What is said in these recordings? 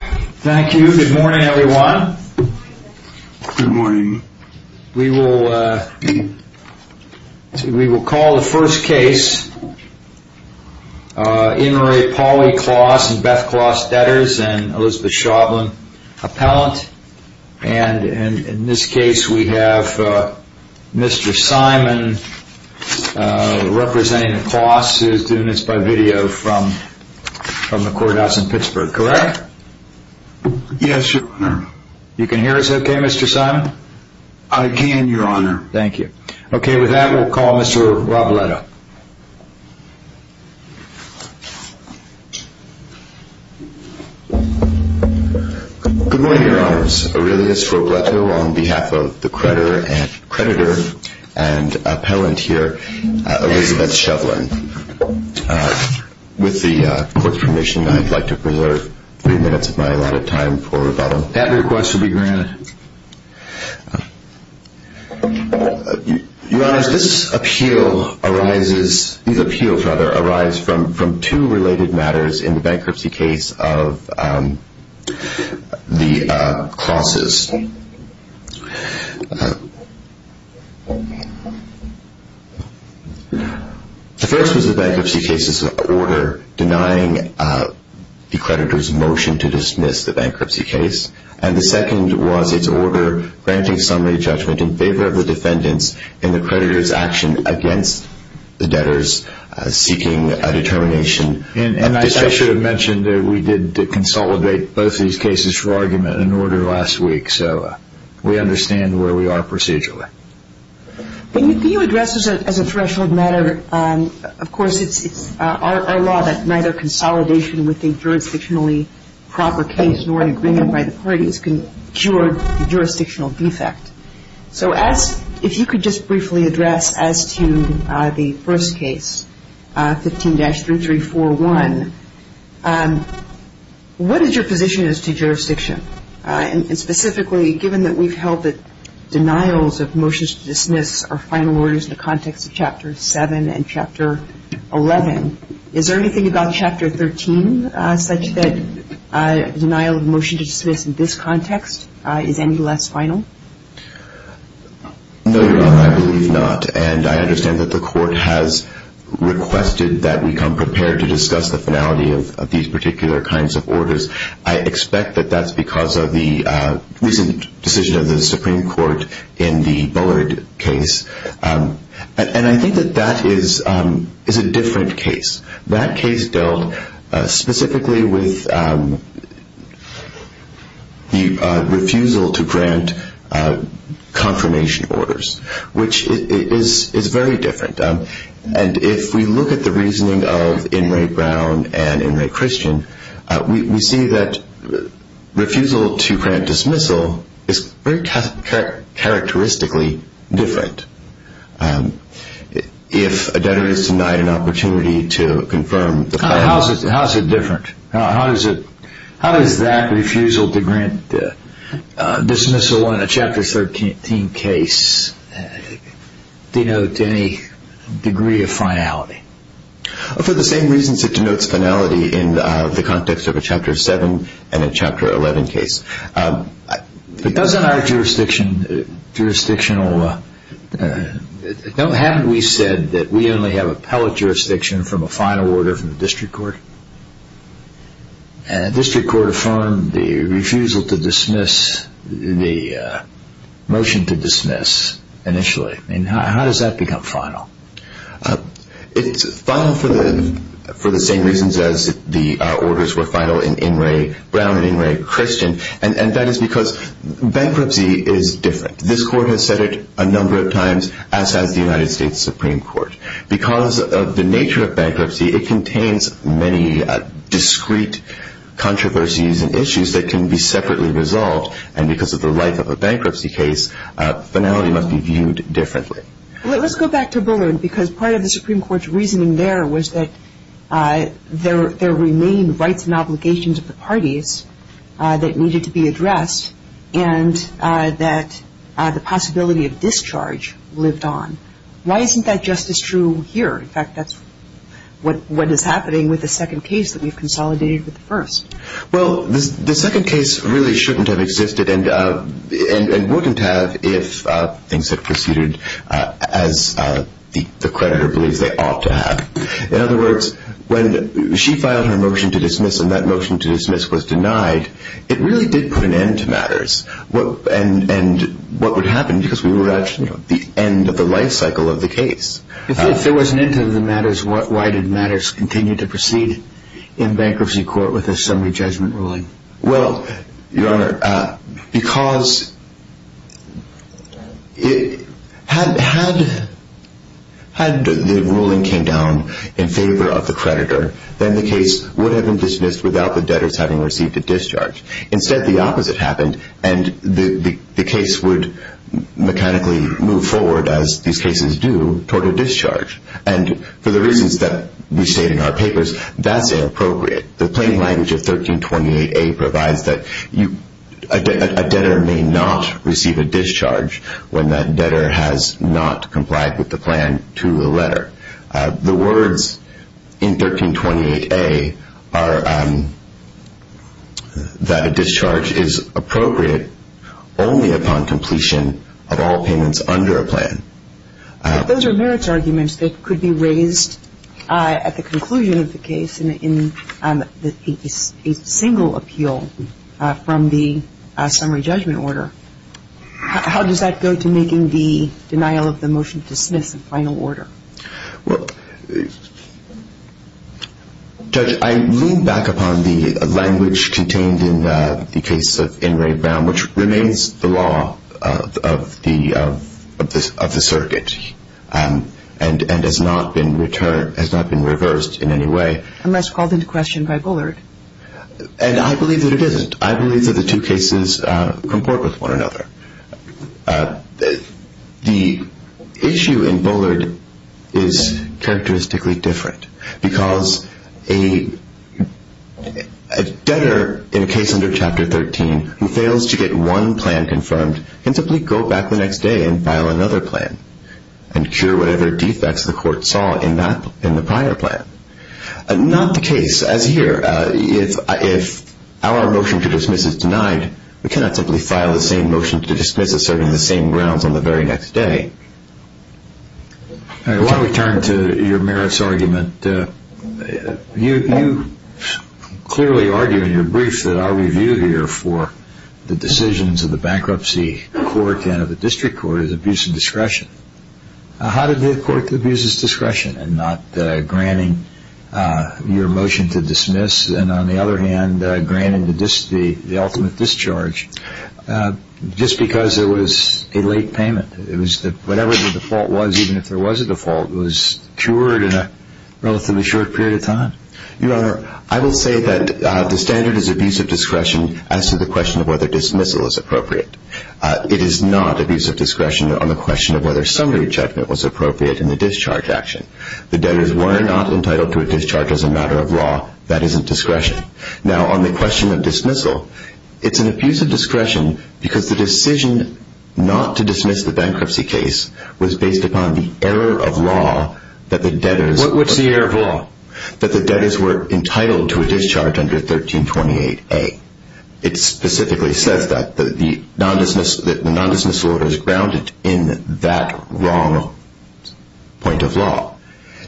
Thank you. Good morning everyone. We will call the first case. In this case we have Mr. Simon representing Klaas who is doing this by video from the courthouse in Pittsburgh, correct? Yes, your honor. You can hear us okay, Mr. Simon? I can, your honor. Thank you. Okay, with that we will call Mr. Robleto. Good morning, your honors. Aurelius Robleto on behalf of the creditor and appellant here, Elizabeth Shovlin. With the court's permission I would like to preserve three minutes of my allotted time for rebuttal. That request will be granted. Your honors, these appeals arise from two related matters in the bankruptcy case of the Klaases. The first was the bankruptcy case's order denying the creditor's motion to dismiss the bankruptcy case. And the second was its order granting summary judgment in favor of the defendants in the creditor's action against the debtors seeking a determination. And I should have mentioned that we did consolidate both of these cases for argument in order last week, so we understand where we are procedurally. When you address this as a threshold matter, of course it's our law that neither consolidation with a jurisdictionally proper case nor an agreement by the parties can cure the jurisdictional defect. So as, if you could just briefly address as to the first case, 15-3341, what is your position as to jurisdiction? And specifically, given that we've held that denials of motions to dismiss are final orders in the context of Chapter 7 and Chapter 11, is there anything about Chapter 13 such that a denial of motion to dismiss in this context is any less final? No, Your Honor, I believe not. And I understand that the Court has requested that we come prepared to discuss the finality of these particular kinds of orders. I expect that that's because of the recent decision of the Supreme Court in the Bullard case. And I think that that is a different case. That case dealt specifically with the refusal to grant confirmation orders, which is very different. And if we look at the reasoning of Inouye Brown and Inouye Christian, we see that refusal to grant dismissal is very characteristically different. If a debtor is denied an opportunity to confirm... How is it different? How does that refusal to grant dismissal in a Chapter 13 case denote any degree of finality? For the same reasons it denotes finality in the context of a Chapter 7 and a Chapter 11 case. But doesn't our jurisdiction... Haven't we said that we only have appellate jurisdiction from a final order from the District Court? And the District Court affirmed the refusal to dismiss, the motion to dismiss initially. How does that become final? It's final for the same reasons as the orders were final in Inouye Brown and Inouye Christian. And that is because bankruptcy is different. This Court has said it a number of times, as has the United States Supreme Court. Because of the nature of bankruptcy, it contains many discrete controversies and issues that can be separately resolved. And because of the life of a bankruptcy case, finality must be viewed differently. Let's go back to Bullard, because part of the Supreme Court's reasoning there was that there remained rights and obligations of the parties that needed to be addressed and that the possibility of discharge lived on. Why isn't that just as true here? In fact, that's what is happening with the second case that we've consolidated with the first. Well, the second case really shouldn't have existed and wouldn't have if things had proceeded as the creditor believes they ought to have. In other words, when she filed her motion to dismiss and that motion to dismiss was denied, it really did put an end to matters and what would happen because we were at the end of the life cycle of the case. If there was an end to the matters, why did matters continue to proceed in bankruptcy court with a summary judgment ruling? Well, Your Honor, because had the ruling came down in favor of the creditor, then the case would have been dismissed without the debtors having received a discharge. Instead, the opposite happened and the case would mechanically move forward, as these cases do, toward a discharge. And for the reasons that we state in our papers, that's inappropriate. The plain language of 1328A provides that a debtor may not receive a discharge when that debtor has not complied with the plan to the letter. The words in 1328A are that a discharge is appropriate only upon completion of all payments under a plan. Those are merits arguments that could be raised at the conclusion of the case in a single appeal from the summary judgment order. How does that go to making the denial of the motion to dismiss a final order? Well, Judge, I lean back upon the language contained in the case of In re Brown, which remains the law of the circuit and has not been reversed in any way. Unless called into question by Bullard. And I believe that it isn't. I believe that the two cases comport with one another. The issue in Bullard is characteristically different because a debtor in a case under Chapter 13 who fails to get one plan confirmed can simply go back the next day and file another plan and cure whatever defects the court saw in the prior plan. Not the case as here. If our motion to dismiss is denied, we cannot simply file the same motion to dismiss asserting the same grounds on the very next day. I want to return to your merits argument. You clearly argue in your brief that I review here for the decisions of the bankruptcy court and of the district court is abuse of discretion. How did the court abuse its discretion in not granting your motion to dismiss and on the other hand granting the ultimate discharge just because there was a late payment? Whatever the default was, even if there was a default, was cured in a relatively short period of time? Your Honor, I will say that the standard is abuse of discretion as to the question of whether dismissal is appropriate. It is not abuse of discretion on the question of whether summary check was appropriate in the discharge action. The debtors were not entitled to a discharge as a matter of law. That isn't discretion. Now on the question of dismissal, it's an abuse of discretion because the decision not to dismiss the bankruptcy case was based upon the error of law that the debtors... What's the error of law? That the debtors were entitled to a discharge under 1328A. It specifically says that the non-dismissal order is grounded in that wrong point of law.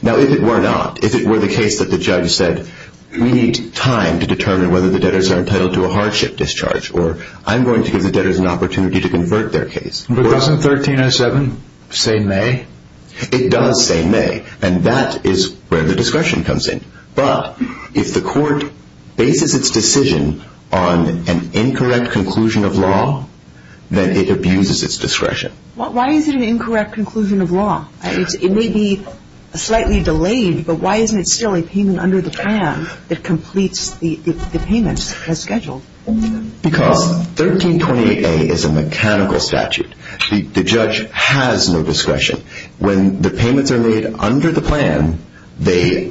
Now if it were not, if it were the case that the judge said we need time to determine whether the debtors are entitled to a hardship discharge or I'm going to give the debtors an opportunity to convert their case... But doesn't 1307 say may? It does say may, and that is where the discretion comes in. But if the court bases its decision on an incorrect conclusion of law, then it abuses its discretion. Why is it an incorrect conclusion of law? It may be slightly delayed, but why isn't it still a payment under the PAM that completes the payment as scheduled? Because 1328A is a mechanical statute. The judge has no discretion. When the payments are made under the plan, the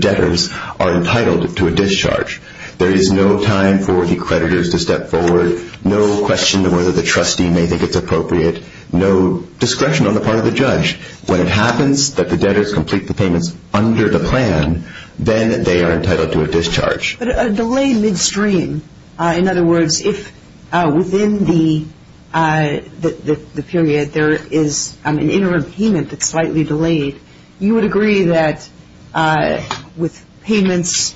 debtors are entitled to a discharge. There is no time for the creditors to step forward, no question of whether the trustee may think it's appropriate, no discretion on the part of the judge. When it happens that the debtors complete the payments under the plan, then they are entitled to a discharge. But a delayed midstream, in other words, if within the period there is an interim payment that's slightly delayed, you would agree that with payments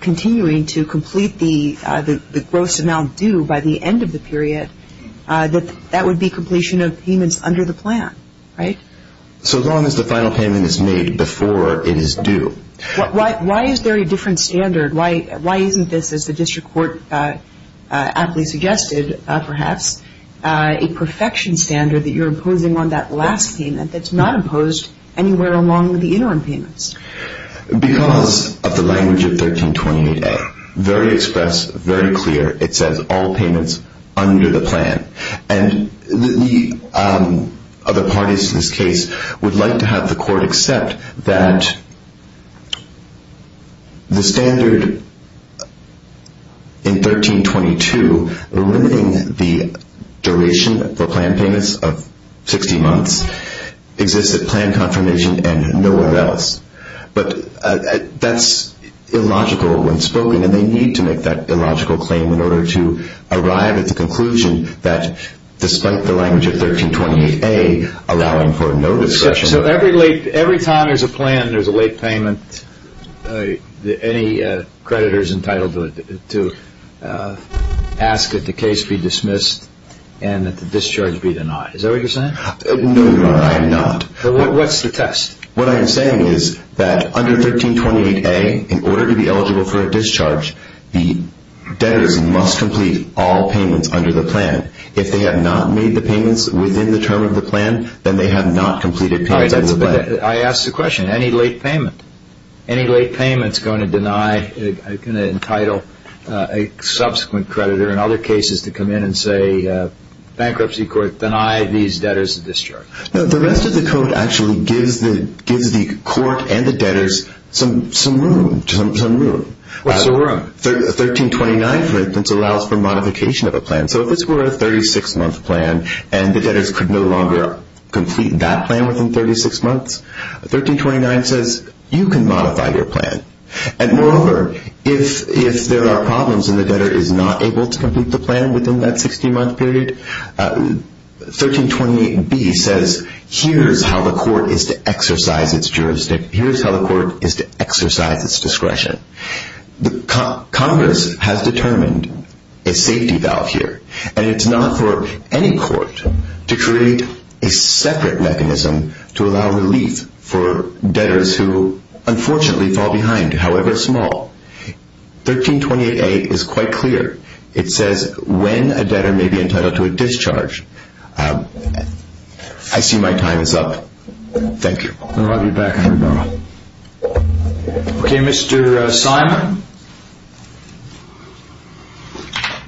continuing to complete the gross amount due by the end of the period, that that would be completion of payments under the plan, right? So long as the final payment is made before it is due. Why is there a different standard? Why isn't this, as the district court aptly suggested perhaps, a perfection standard that you're imposing on that last payment that's not imposed anywhere along the interim payments? Because of the language of 1328A. Very express, very clear. It says all payments under the plan. And the other parties to this case would like to have the court accept that the standard in 1322, limiting the duration for plan payments of 60 months, exists at plan confirmation and nowhere else. But that's illogical when spoken, and they need to make that illogical claim in order to arrive at the conclusion that despite the language of 1328A, allowing for no discretion. So every time there's a plan, there's a late payment, any creditor is entitled to ask that the case be dismissed and that the discharge be denied. Is that what you're saying? No, Your Honor, I am not. What's the test? What I am saying is that under 1328A, in order to be eligible for a discharge, the debtors must complete all payments under the plan. If they have not made the payments within the term of the plan, then they have not completed payments under the plan. I asked the question, any late payment? Any late payment is going to deny, going to entitle a subsequent creditor in other cases to come in and say, bankruptcy court, deny these debtors a discharge. No, the rest of the code actually gives the court and the debtors some room. What's the room? 1329, for instance, allows for modification of a plan. So if this were a 36-month plan and the debtors could no longer complete that plan within 36 months, 1329 says, you can modify your plan. And moreover, if there are problems and the debtor is not able to complete the plan within that 16-month period, 1328B says, here's how the court is to exercise its jurisdiction. Congress has determined a safety valve here and it's not for any court to create a separate mechanism to allow relief for debtors who unfortunately fall behind, however small. 1328A is quite clear. It says when a debtor may be entitled to a discharge. I see my time is up. Thank you. I'll be back in a moment. Okay, Mr. Simon.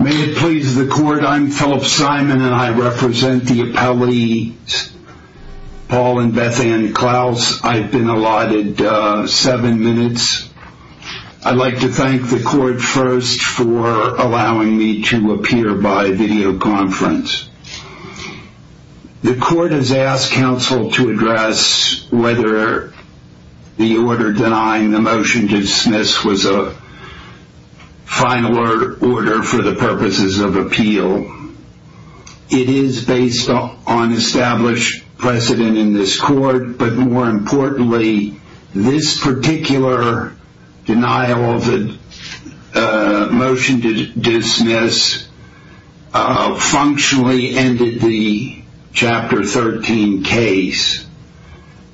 May it please the court, I'm Philip Simon and I represent the appellate Paul and Beth Ann Klaus. I've been allotted seven minutes. I'd like to thank the court first for allowing me to appear by video conference. The court has asked counsel to address whether the order denying the motion to dismiss was a final order for the purposes of appeal. It is based on established precedent in this court, but more importantly, this particular denial of the motion to dismiss functionally ended the Chapter 13 case.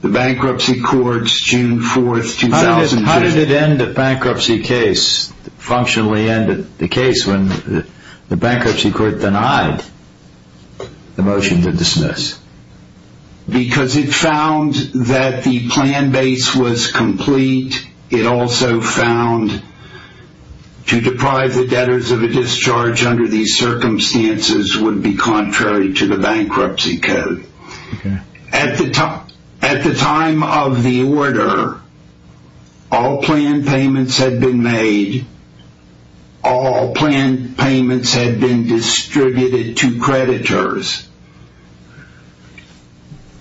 The bankruptcy courts, June 4th, 2000... How did it end a bankruptcy case, functionally end the case when the bankruptcy court denied the motion to dismiss? Because it found that the plan base was complete. It also found to deprive the debtors of a discharge under these circumstances would be contrary to the bankruptcy code. At the time of the order, all planned payments had been made. All planned payments had been distributed to creditors.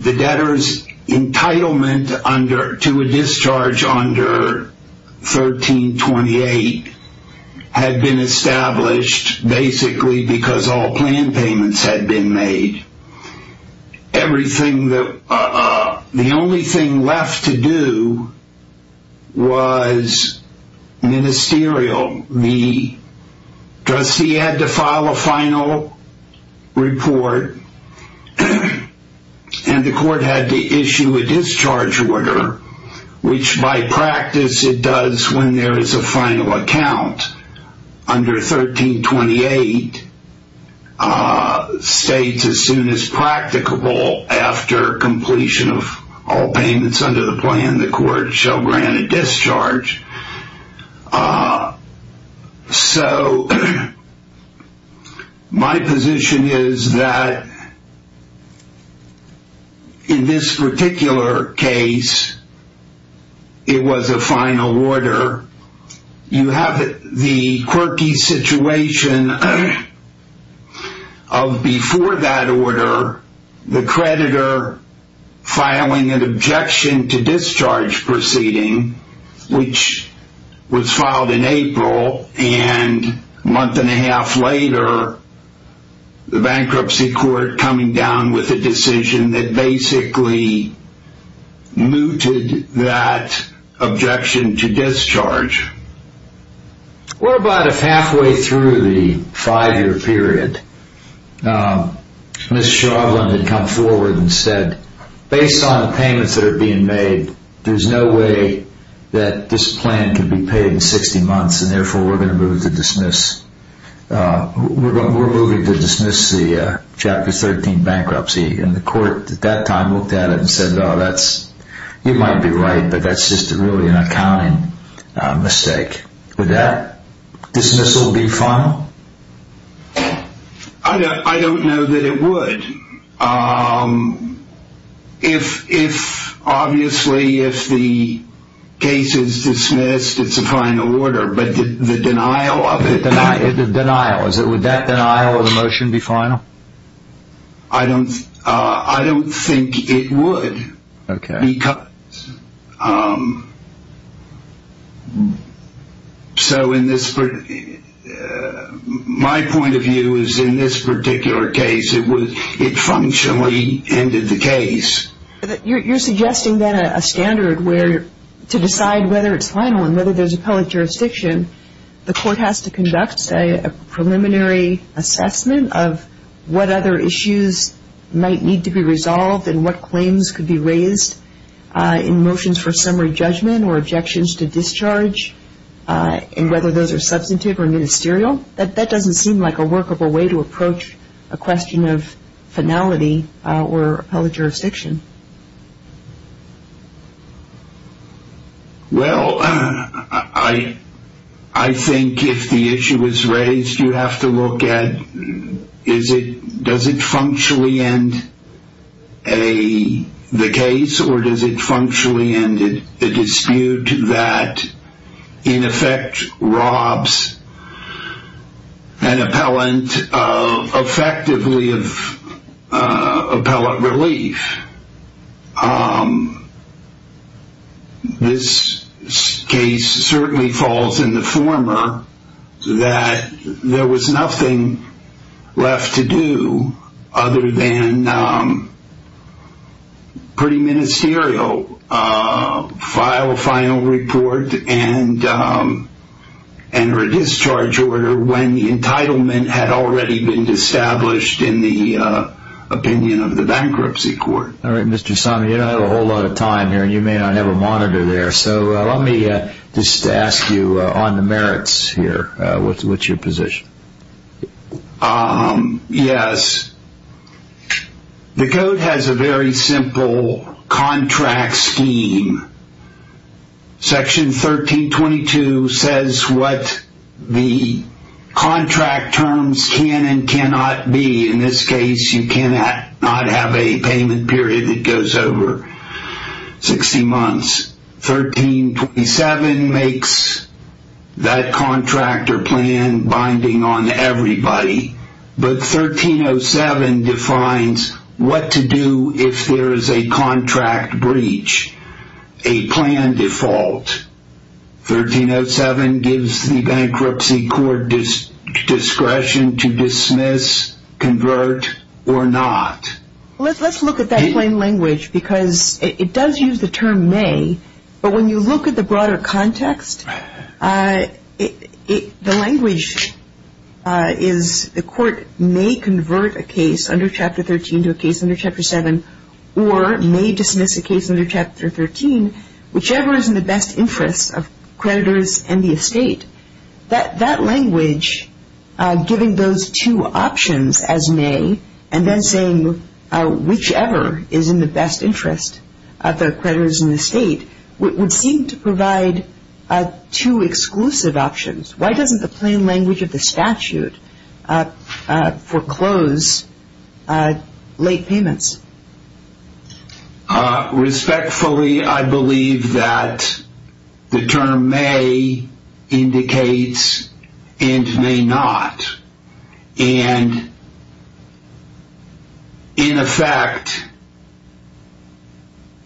The debtors' entitlement to a discharge under 1328 had been established basically because all planned payments had been made. Everything that... The only thing left to do was ministerial. The trustee had to file a final report and the court had to issue a discharge order, which by practice it does when there is a final account. Under 1328 states as soon as practicable after completion of all payments under the plan, the court shall grant a discharge. So my position is that in this particular case, it was a final order. You have the quirky situation of before that order, the creditor filing an objection to discharge proceeding, which was filed in April and a month and a half later, the bankruptcy court coming down with a decision that basically mooted that objection to discharge. What about if halfway through the five-year period, Ms. Chauvelin had come forward and said, based on the payments that are being made, there's no way that this plan could be paid in 60 months and therefore we're going to move to dismiss. We're moving to dismiss the Chapter 13 bankruptcy and the court at that time looked at it and said, you might be right, but that's just really an accounting mistake. Would that dismissal be final? I don't know that it would. Obviously, if the case is dismissed, it's a final order, but the denial of it... The denial. Would that denial of the motion be final? I don't think it would. Okay. My point of view is in this particular case, it functionally ended the case. You're suggesting then a standard to decide whether it's final and whether there's appellate jurisdiction, the court has to conduct, say, a preliminary assessment of what other issues might need to be resolved and what claims could be raised in motions for summary judgment or objections to discharge and whether those are substantive or ministerial. That doesn't seem like a workable way to approach a question of finality or appellate jurisdiction. Well, I think if the issue is raised, you have to look at, does it functionally end the case or does it functionally end the dispute that in effect robs an appellant effectively of appellate relief? This case certainly falls in the former that there was nothing left to do other than pretty ministerial, file a final report and enter a discharge order when the entitlement had already been established in the opinion of the bankruptcy court. All right, Mr. Somme, you don't have a whole lot of time here and you may not have a monitor there, so let me just ask you on the merits here. What's your position? Yes. The code has a very simple contract scheme. Section 1322 says what the contract terms can and cannot be in this case you cannot have a payment period that goes over 60 months. 1327 makes that contractor plan binding on everybody, but 1307 defines what to do if there is a contract breach, a plan default. 1307 gives the bankruptcy court discretion to dismiss, convert, or not. Let's look at that plain language because it does use the term may, but when you look at the broader context, the language is the court may convert a case under Chapter 13 to a case under Chapter 7 or may dismiss a case under Chapter 13, whichever is in the best interest of creditors and the estate. That language, giving those two options as may and then saying whichever is in the best interest of the creditors and the estate would seem to provide two exclusive options. Why doesn't the plain language of the statute foreclose late payments? Respectfully, I believe that the term may indicates and may not, and in effect,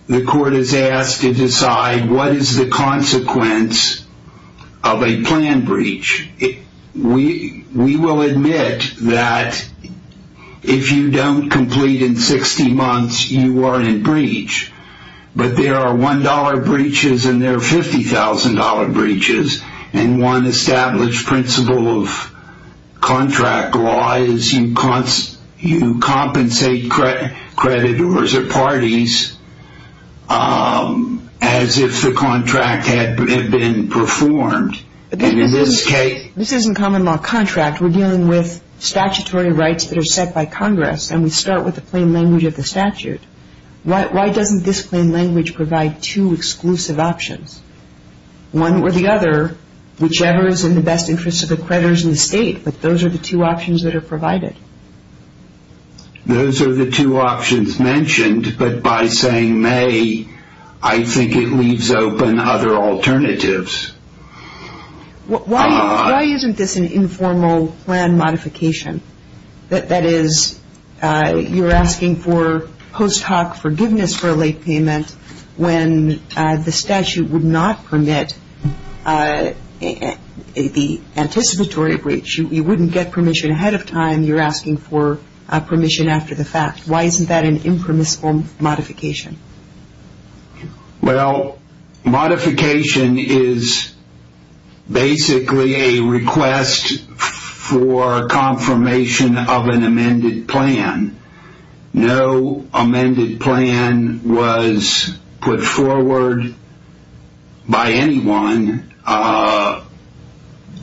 the court is asked to decide what is the consequence of a plan breach. We will admit that if you don't complete in 60 months, you are in breach, but there are $1 breaches and there are $50,000 breaches, and one established principle of contract law is you compensate creditors or parties as if the contract had been performed, and in this case... This isn't common law contract. We're dealing with statutory rights that are set by Congress and we start with the plain language of the statute. Why doesn't this plain language provide two exclusive options? One or the other, whichever is in the best interest of the creditors and the estate, but those are the two options that are provided. Those are the two options mentioned, but by saying may, I think it leaves open other alternatives. Why isn't this an informal plan modification? That is, you're asking for post hoc forgiveness for a late payment when the statute would not permit the anticipatory breach. You wouldn't get permission ahead of time. You're asking for permission after the fact. Why isn't that an impermissible modification? Well, modification is basically a request for confirmation of an amended plan. No amended plan was put forward by anyone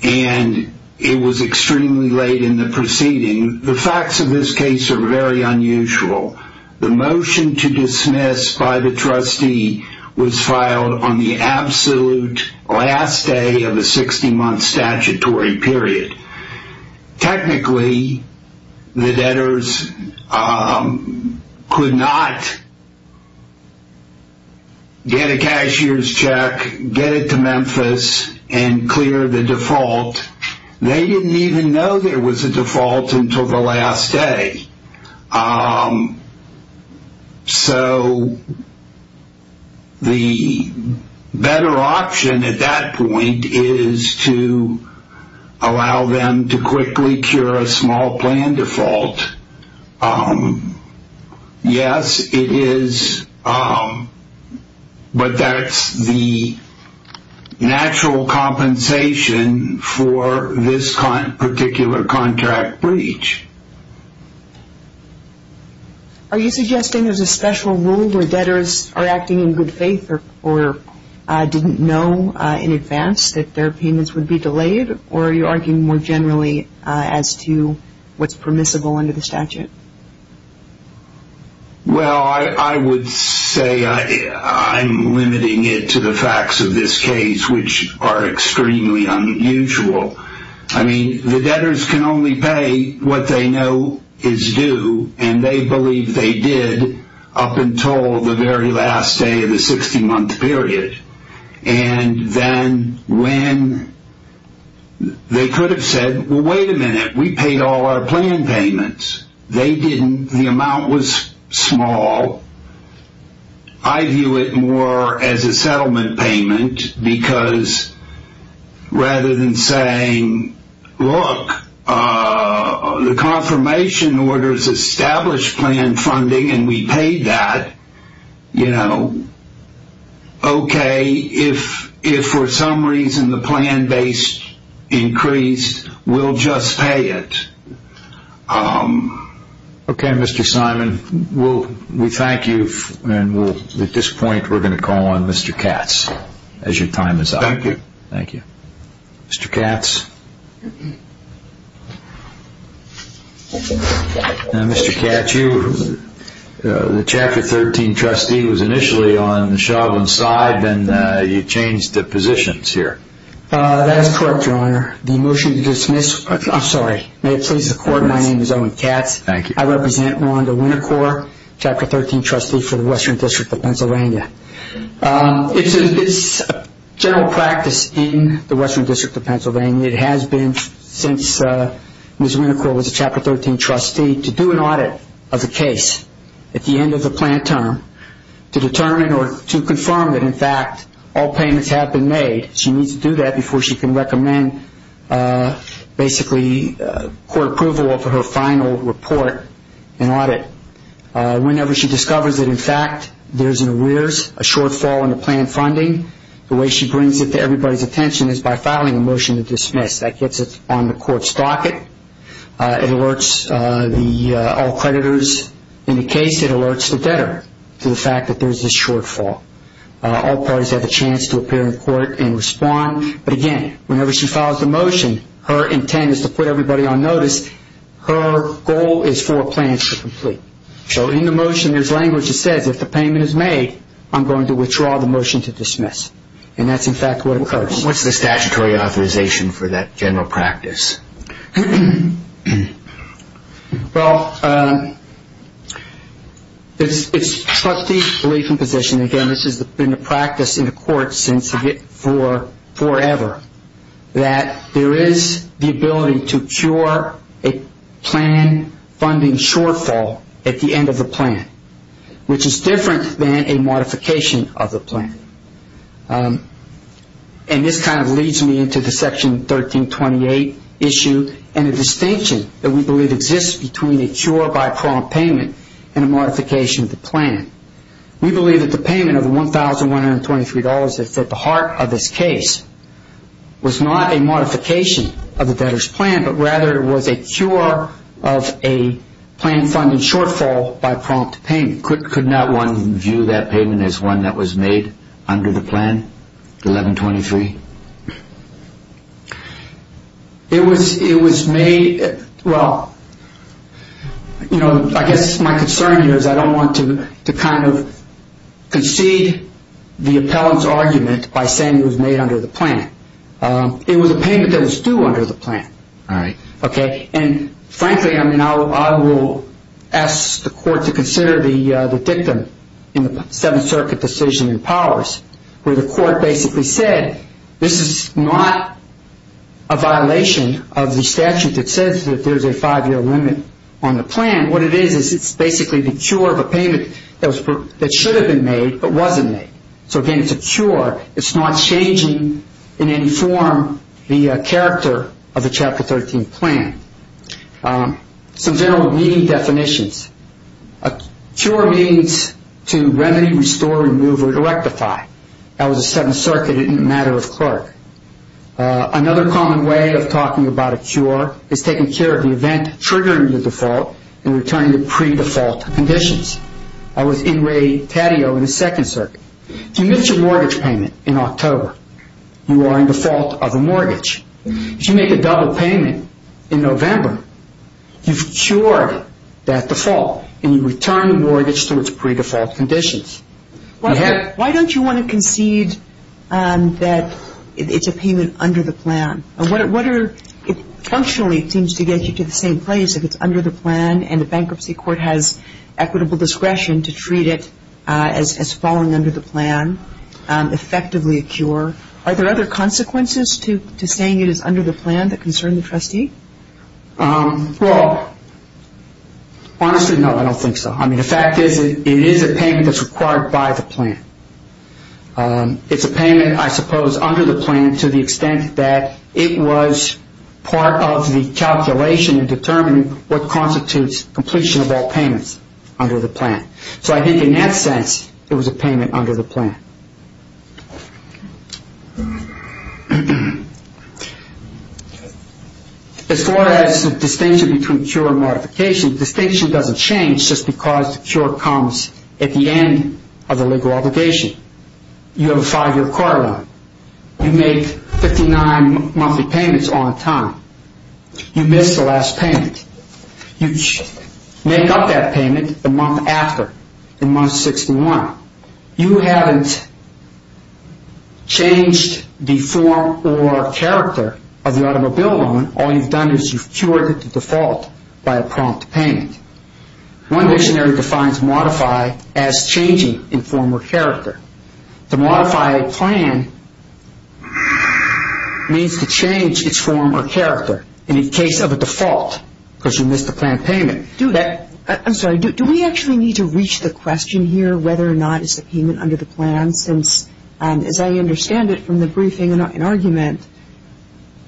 and it was extremely late in the proceeding. The facts of this case are very unusual. The motion to dismiss by the trustee was filed on the absolute last day of the 60-month statutory period. Technically, the debtors could not get a cashier's check, get it to Memphis, and clear the default. They didn't even know there was a default until the last day. So the better option at that point is to allow them to quickly cure a small plan default. Yes, it is, but that's the natural compensation for this particular contract breach. Are you suggesting there's a special rule where debtors are acting in good faith or didn't know in advance that their payments would be delayed or are you arguing more generally as to what's permissible under the statute? Well, I would say I'm limiting it to the facts of this case which are extremely unusual. I mean, the debtors can only pay what they know is due and they believe they did up until the very last day of the 60-month period. And then when they could have said, well, wait a minute, we paid all our plan payments. They didn't. The amount was small. I view it more as a settlement payment because rather than saying, look, the confirmation orders established plan funding and we paid that, you know, okay, if for some reason the plan base increased, we'll just pay it. Okay, Mr. Simon, we thank you and at this point we're going to call on Mr. Katz as your time is up. Thank you. Thank you. Mr. Katz. Mr. Katz, the Chapter 13 trustee was initially on the Chauvin side and you changed the positions here. That is correct, Your Honor. The motion to dismiss, I'm sorry, may it please the Court, my name is Owen Katz. Thank you. I represent Rhonda Winnicore, Chapter 13 trustee for the Western District of Pennsylvania. It's a general practice in the Western District of Pennsylvania. It has been since Ms. Winnicore was a Chapter 13 trustee to do an audit of the case at the end of the plan term to determine or to confirm that in fact all payments have been made. She needs to do that before she can recommend basically court approval of her final report and audit. Whenever she discovers that in fact there's an arrears, a shortfall in the plan funding, the way she brings it to everybody's attention is by filing a motion to dismiss. That gets it on the Court's docket. It alerts all creditors in the case. It alerts the debtor to the fact that there's this shortfall. All parties have the chance to appear in court and respond. But again, whenever she files the motion, her intent is to put everybody on notice. Her goal is for a plan to complete. So in the motion, there's language that says if the payment is made, I'm going to withdraw the motion to dismiss. And that's in fact what occurs. What's the statutory authorization for that general practice? Well, it's trustee belief and position. Again, this has been a practice in the court since forever that there is the ability to cure a plan funding shortfall at the end of the plan, which is different than a modification of the plan. And this kind of leads me into the Section 1328 issue and the distinction that we believe exists between a cure by prompt payment and a modification of the plan. We believe that the payment of $1,123 that's at the heart of this case was not a modification of the debtor's plan, but rather it was a cure of a plan funding shortfall by prompt payment. Could not one view that payment as one that was made under the plan, $1,123? It was made... Well, you know, I guess my concern here is I don't want to kind of concede the appellant's argument by saying it was made under the plan. It was a payment that was due under the plan. All right. Okay. And frankly, I mean, I will ask the court to consider the dictum in the Seventh Circuit decision in powers where the court basically said this is not a violation of the statute that says that there's a five-year limit on the plan. What it is is it's basically the cure of a payment that should have been made but wasn't made. So, again, it's a cure. It's not changing in any form the character of the Chapter 13 plan. Some general reading definitions. A cure means to remedy, restore, remove, or to rectify. That was the Seventh Circuit in the matter of Clark. Another common way of talking about a cure is taking care of the event triggering the default and returning to pre-default conditions. That was in Ray Taddeo in the Second Circuit. If you miss your mortgage payment in October, you are in default of a mortgage. If you make a double payment in November, you've cured that default and you return the mortgage to its pre-default conditions. Why don't you want to concede that it's a payment under the plan? Functionally, it seems to get you to the same place if it's under the plan and the bankruptcy court has equitable discretion to treat it as falling under the plan, effectively a cure. Are there other consequences to saying it is under the plan that concern the trustee? Well, honestly, no, I don't think so. The fact is it is a payment that's required by the plan. It's a payment, I suppose, under the plan to the extent that it was part of the calculation in determining what constitutes completion of all payments under the plan. So I think in that sense, it was a payment under the plan. As far as the distinction between cure and modification, the distinction doesn't change just because the cure comes at the end of the legal obligation. You have a five-year court order. You make 59 monthly payments on time. You miss the last payment. You make up that payment the month after, in month 61. You have until the end of the month changed the form or character of the automobile loan. All you've done is you've cured the default by a prompt payment. One dictionary defines modify as changing in form or character. To modify a plan means to change its form or character. In the case of a default, because you missed the planned payment. I'm sorry, do we actually need to reach the question here of whether or not it's a payment under the plan since, as I understand it from the briefing and argument,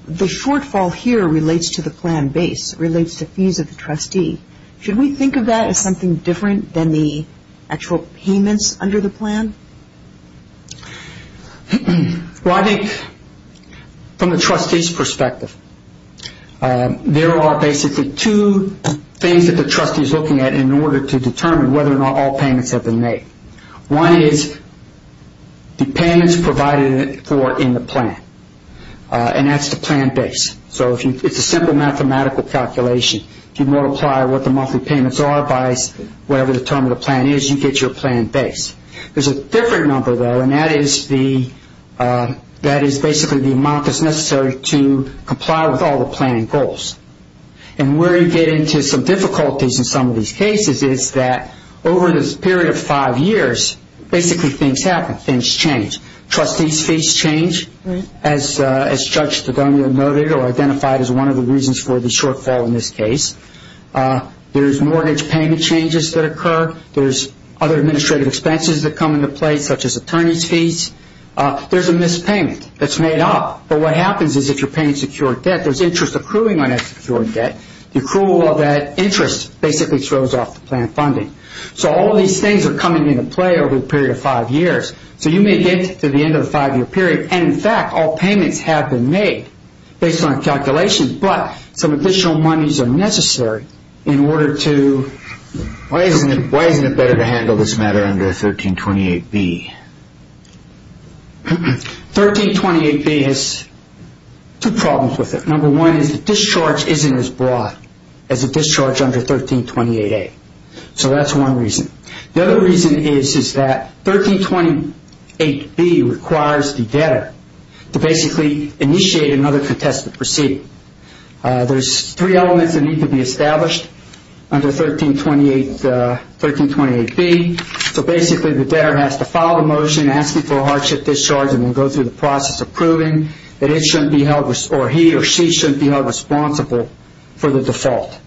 the shortfall here relates to the plan base, relates to fees of the trustee. Should we think of that as something different than the actual payments under the plan? Well, I think from the trustee's perspective, there are basically two things that the trustee is looking at in order to determine whether or not all payments have been made. One is the payments provided for in the plan, and that's the plan base. So it's a simple mathematical calculation. If you multiply what the monthly payments are by whatever the term of the plan is, you get your plan base. There's a different number, though, and that is basically the amount that's necessary to comply with all the planning goals. And where you get into some difficulties in some of these cases is that over this period of five years, basically things happen. Things change. Trustees' fees change, as Judge Stegonia noted or identified as one of the reasons for the shortfall in this case. There's mortgage payment changes that occur. There's other administrative expenses that come into play, such as attorney's fees. There's a missed payment that's made up. But what happens is if you're paying secured debt, there's interest accruing on that secured debt. The accrual of that interest basically throws off the plan funding. So all of these things are coming into play over the period of five years. So you may get to the end of the five-year period, and in fact all payments have been made based on calculations, but some additional monies are necessary in order to... Why isn't it better to handle this matter under 1328B? 1328B has two problems with it. Number one is the discharge isn't as broad as the discharge under 1328A. So that's one reason. The other reason is that 1328B requires the debtor to basically initiate another contested proceeding. There's three elements that need to be established under 1328B. So basically the debtor has to file a motion asking for a hardship discharge and then go through the process of proving that it shouldn't be held or he or she shouldn't be held responsible for the default.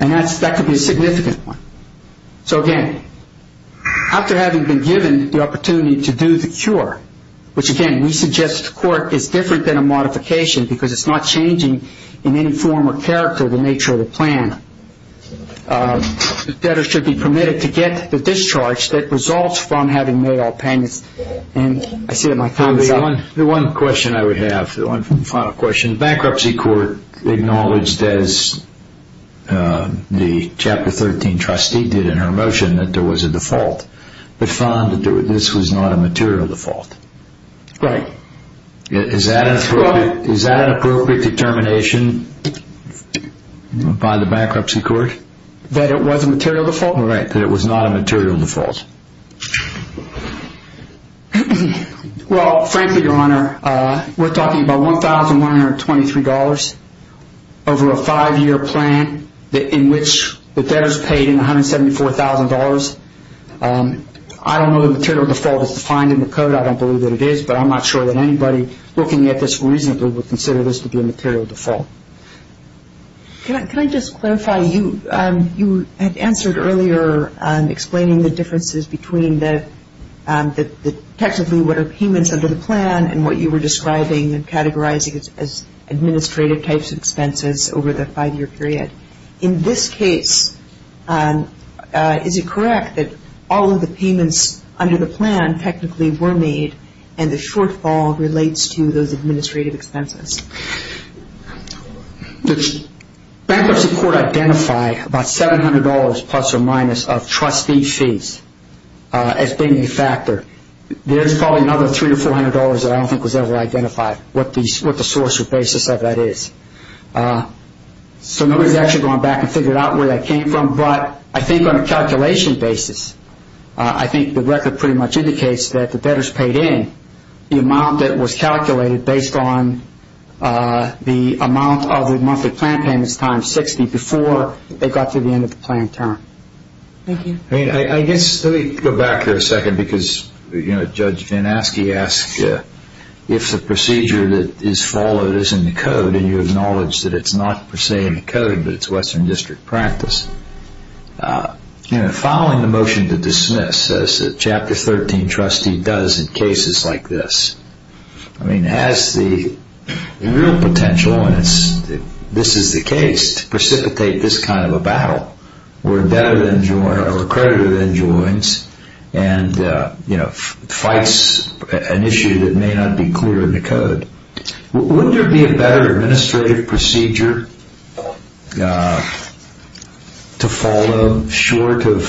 And that could be a significant one. So again, after having been given the opportunity to do the cure, which again we suggest to the court is different than a modification because it's not changing in any form or character the nature of the plan, the debtor should be permitted to get the discharge that results from having made all payments. And I see that my time is up. The one question I would have, the final question, the bankruptcy court acknowledged as the Chapter 13 trustee did in her motion that there was a default, but found that this was not a material default. Right. Is that an appropriate determination by the bankruptcy court? That it was a material default? Right, that it was not a material default. Well, frankly, Your Honor, we're talking about $1,123 over a five-year plan in which the debtor's paid $174,000. I don't know the material default is defined in the code. I don't believe that it is, but I'm not sure that anybody looking at this reasonably would consider this to be a material default. Can I just clarify, you had answered earlier explaining the differences between the technically what are payments under the plan and what you were describing and categorizing as administrative types of expenses over the five-year period. In this case, is it correct that all of the payments under the plan technically were made and the shortfall relates to those administrative expenses? The bankruptcy court identified about $700 plus or minus of trustee fees as being a factor. There's probably another $300 or $400 that I don't think was ever identified, what the source or basis of that is. So nobody's actually gone back and figured out where that came from, but I think on a calculation basis, I think the record pretty much indicates that the debtor's paid in the amount that was calculated based on the amount of the monthly plan payments times 60 before they got to the end of the plan term. Thank you. I mean, I guess let me go back here a second, because Judge Van Aske asked if the procedure that is followed is in the code and you acknowledge that it's not per se in the code, but it's Western District practice. Following the motion to dismiss, as Chapter 13 trustee does in cases like this, I mean, has the real potential, and this is the case, to precipitate this kind of a battle where a creditor then joins and fights an issue that may not be clear in the code. Wouldn't there be a better administrative procedure to follow short of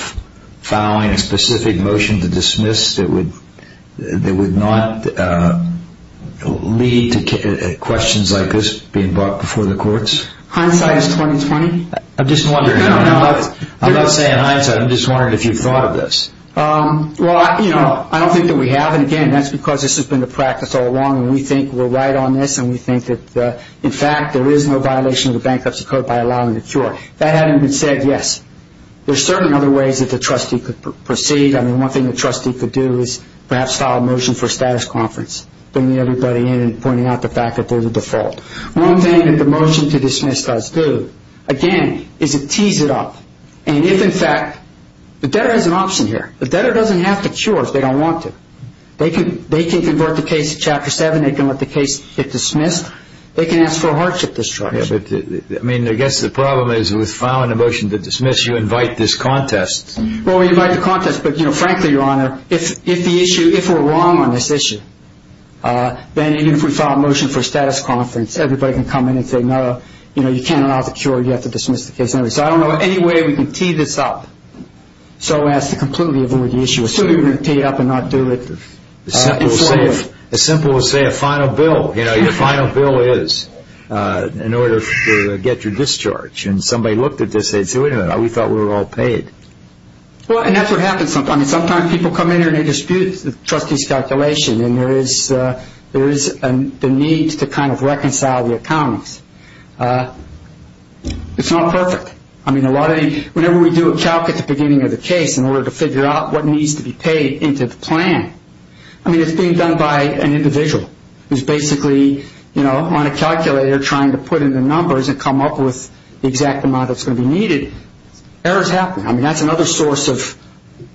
following a specific motion to dismiss that would not lead to questions like this being brought before the courts? Hindsight is 20-20. I'm just wondering. No, no. I'm not saying hindsight. I'm just wondering if you've thought of this. Well, I don't think that we have, and again, that's because this has been the practice all along, and we think we're right on this, and we think that, in fact, there is no violation of the Bankruptcy Code by allowing the cure. If that hadn't been said, yes. There are certain other ways that the trustee could proceed. I mean, one thing the trustee could do is perhaps file a motion for a status conference, bringing everybody in and pointing out the fact that there's a default. One thing that the motion to dismiss does do, again, is it tees it up. And if, in fact, the debtor has an option here. The debtor doesn't have to cure if they don't want to. They can convert the case to Chapter 7. They can let the case get dismissed. They can ask for a hardship discharge. I mean, I guess the problem is with filing a motion to dismiss, you invite this contest. Well, we invite the contest, but, frankly, Your Honor, if we're wrong on this issue, then even if we file a motion for a status conference, everybody can come in and say, No, you can't allow the cure. You have to dismiss the case. So I don't know any way we can tee this up so as to completely avoid the issue. So you're going to tee it up and not do it? As simple as, say, a final bill. You know, your final bill is in order to get your discharge. And somebody looked at this and said, Wait a minute. We thought we were all paid. Well, and that's what happens sometimes. I mean, sometimes people come in here and they dispute the trustee's calculation, and there is the need to kind of reconcile the accountants. It's not perfect. I mean, whenever we do a calc at the beginning of the case in order to figure out what needs to be paid into the plan, I mean, it's being done by an individual who's basically on a calculator trying to put in the numbers and come up with the exact amount that's going to be needed. Errors happen. I mean, that's another source of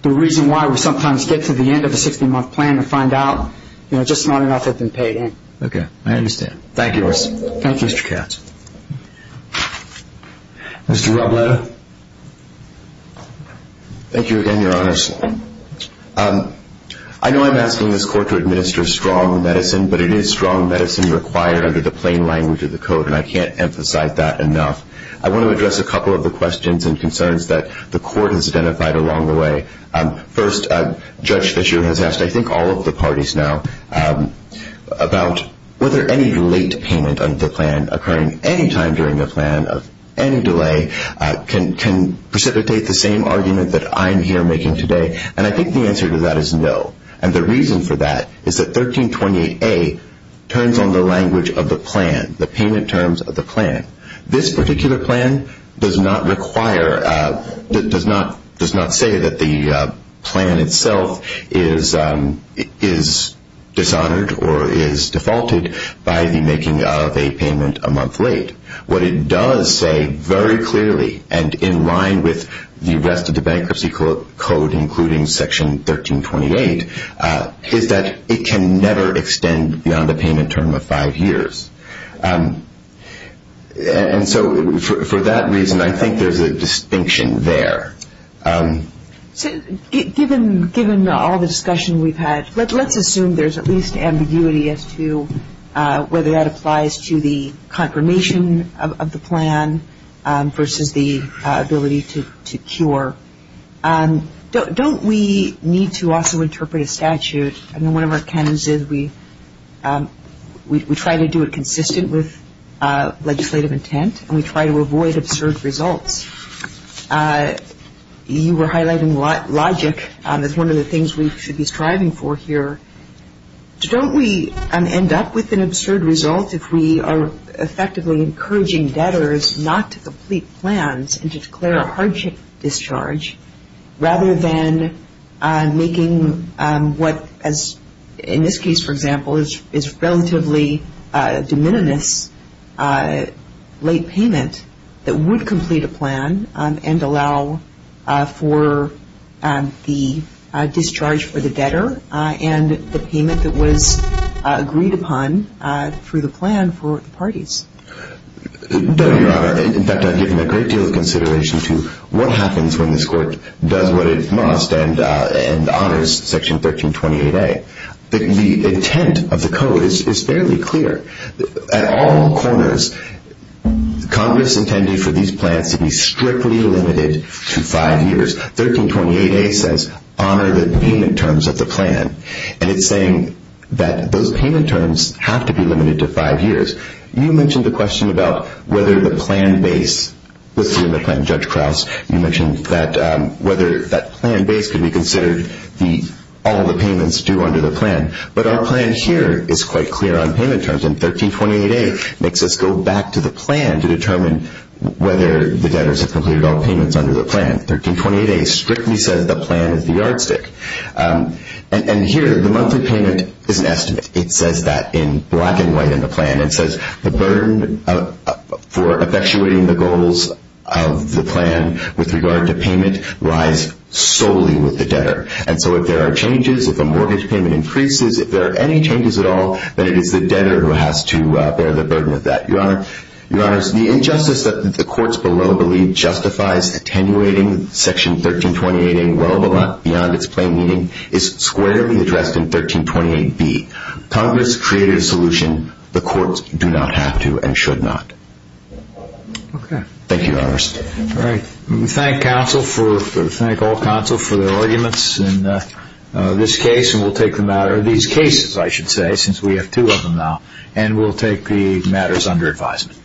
the reason why we sometimes get to the end of a 60-month plan to find out, you know, just not enough has been paid in. Okay. I understand. Thank you, Mr. Katz. Thank you. Mr. Robledo. Thank you again, Your Honors. I know I'm asking this Court to administer strong medicine, but it is strong medicine required under the plain language of the Code, and I can't emphasize that enough. I want to address a couple of the questions and concerns that the Court has identified along the way. First, Judge Fischer has asked, I think, all of the parties now, about whether any late payment of the plan occurring any time during the plan of any delay can precipitate the same argument that I'm here making today, and I think the answer to that is no, and the reason for that is that 1328A turns on the language of the plan, the payment terms of the plan. This particular plan does not require, does not say that the plan itself is dishonored or is defaulted by the making of a payment a month late. What it does say very clearly and in line with the rest of the Bankruptcy Code, including Section 1328, is that it can never extend beyond the payment term of five years. And so for that reason, I think there's a distinction there. So given all the discussion we've had, let's assume there's at least ambiguity as to whether that applies to the confirmation of the plan versus the ability to cure. Don't we need to also interpret a statute? I mean, one of our canons is we try to do it consistent with legislative intent and we try to avoid absurd results. You were highlighting logic as one of the things we should be striving for here. Don't we end up with an absurd result if we are effectively encouraging debtors not to complete plans and to declare a hardship discharge rather than making what, in this case, for example, is relatively de minimis late payment that would complete a plan and allow for the discharge for the debtor and the payment that was agreed upon through the plan for the parties? No, Your Honor. In fact, I've given a great deal of consideration to what happens when this Court does what it must and honors Section 1328A. The intent of the Code is fairly clear. At all corners, Congress intended for these plans to be strictly limited to five years. 1328A says honor the payment terms of the plan, and it's saying that those payment terms have to be limited to five years. You mentioned a question about whether the plan base, with you in the plan, Judge Krauss, you mentioned that whether that plan base could be considered all the payments due under the plan. But our plan here is quite clear on payment terms, and 1328A makes us go back to the plan to determine whether the debtors have completed all payments under the plan. 1328A strictly says the plan is the yardstick. And here, the monthly payment is an estimate. It says that in black and white in the plan. It says the burden for effectuating the goals of the plan with regard to payment lies solely with the debtor. And so if there are changes, if a mortgage payment increases, if there are any changes at all, then it is the debtor who has to bear the burden of that. Your Honors, the injustice that the courts below believe justifies attenuating Section 1328A well beyond its plain meaning is squarely addressed in 1328B. Congress created a solution. The courts do not have to and should not. Thank you, Your Honors. All right. We thank all counsel for their arguments in this case. And we'll take the matter of these cases, I should say, since we have two of them now. And we'll take the matters under advisement.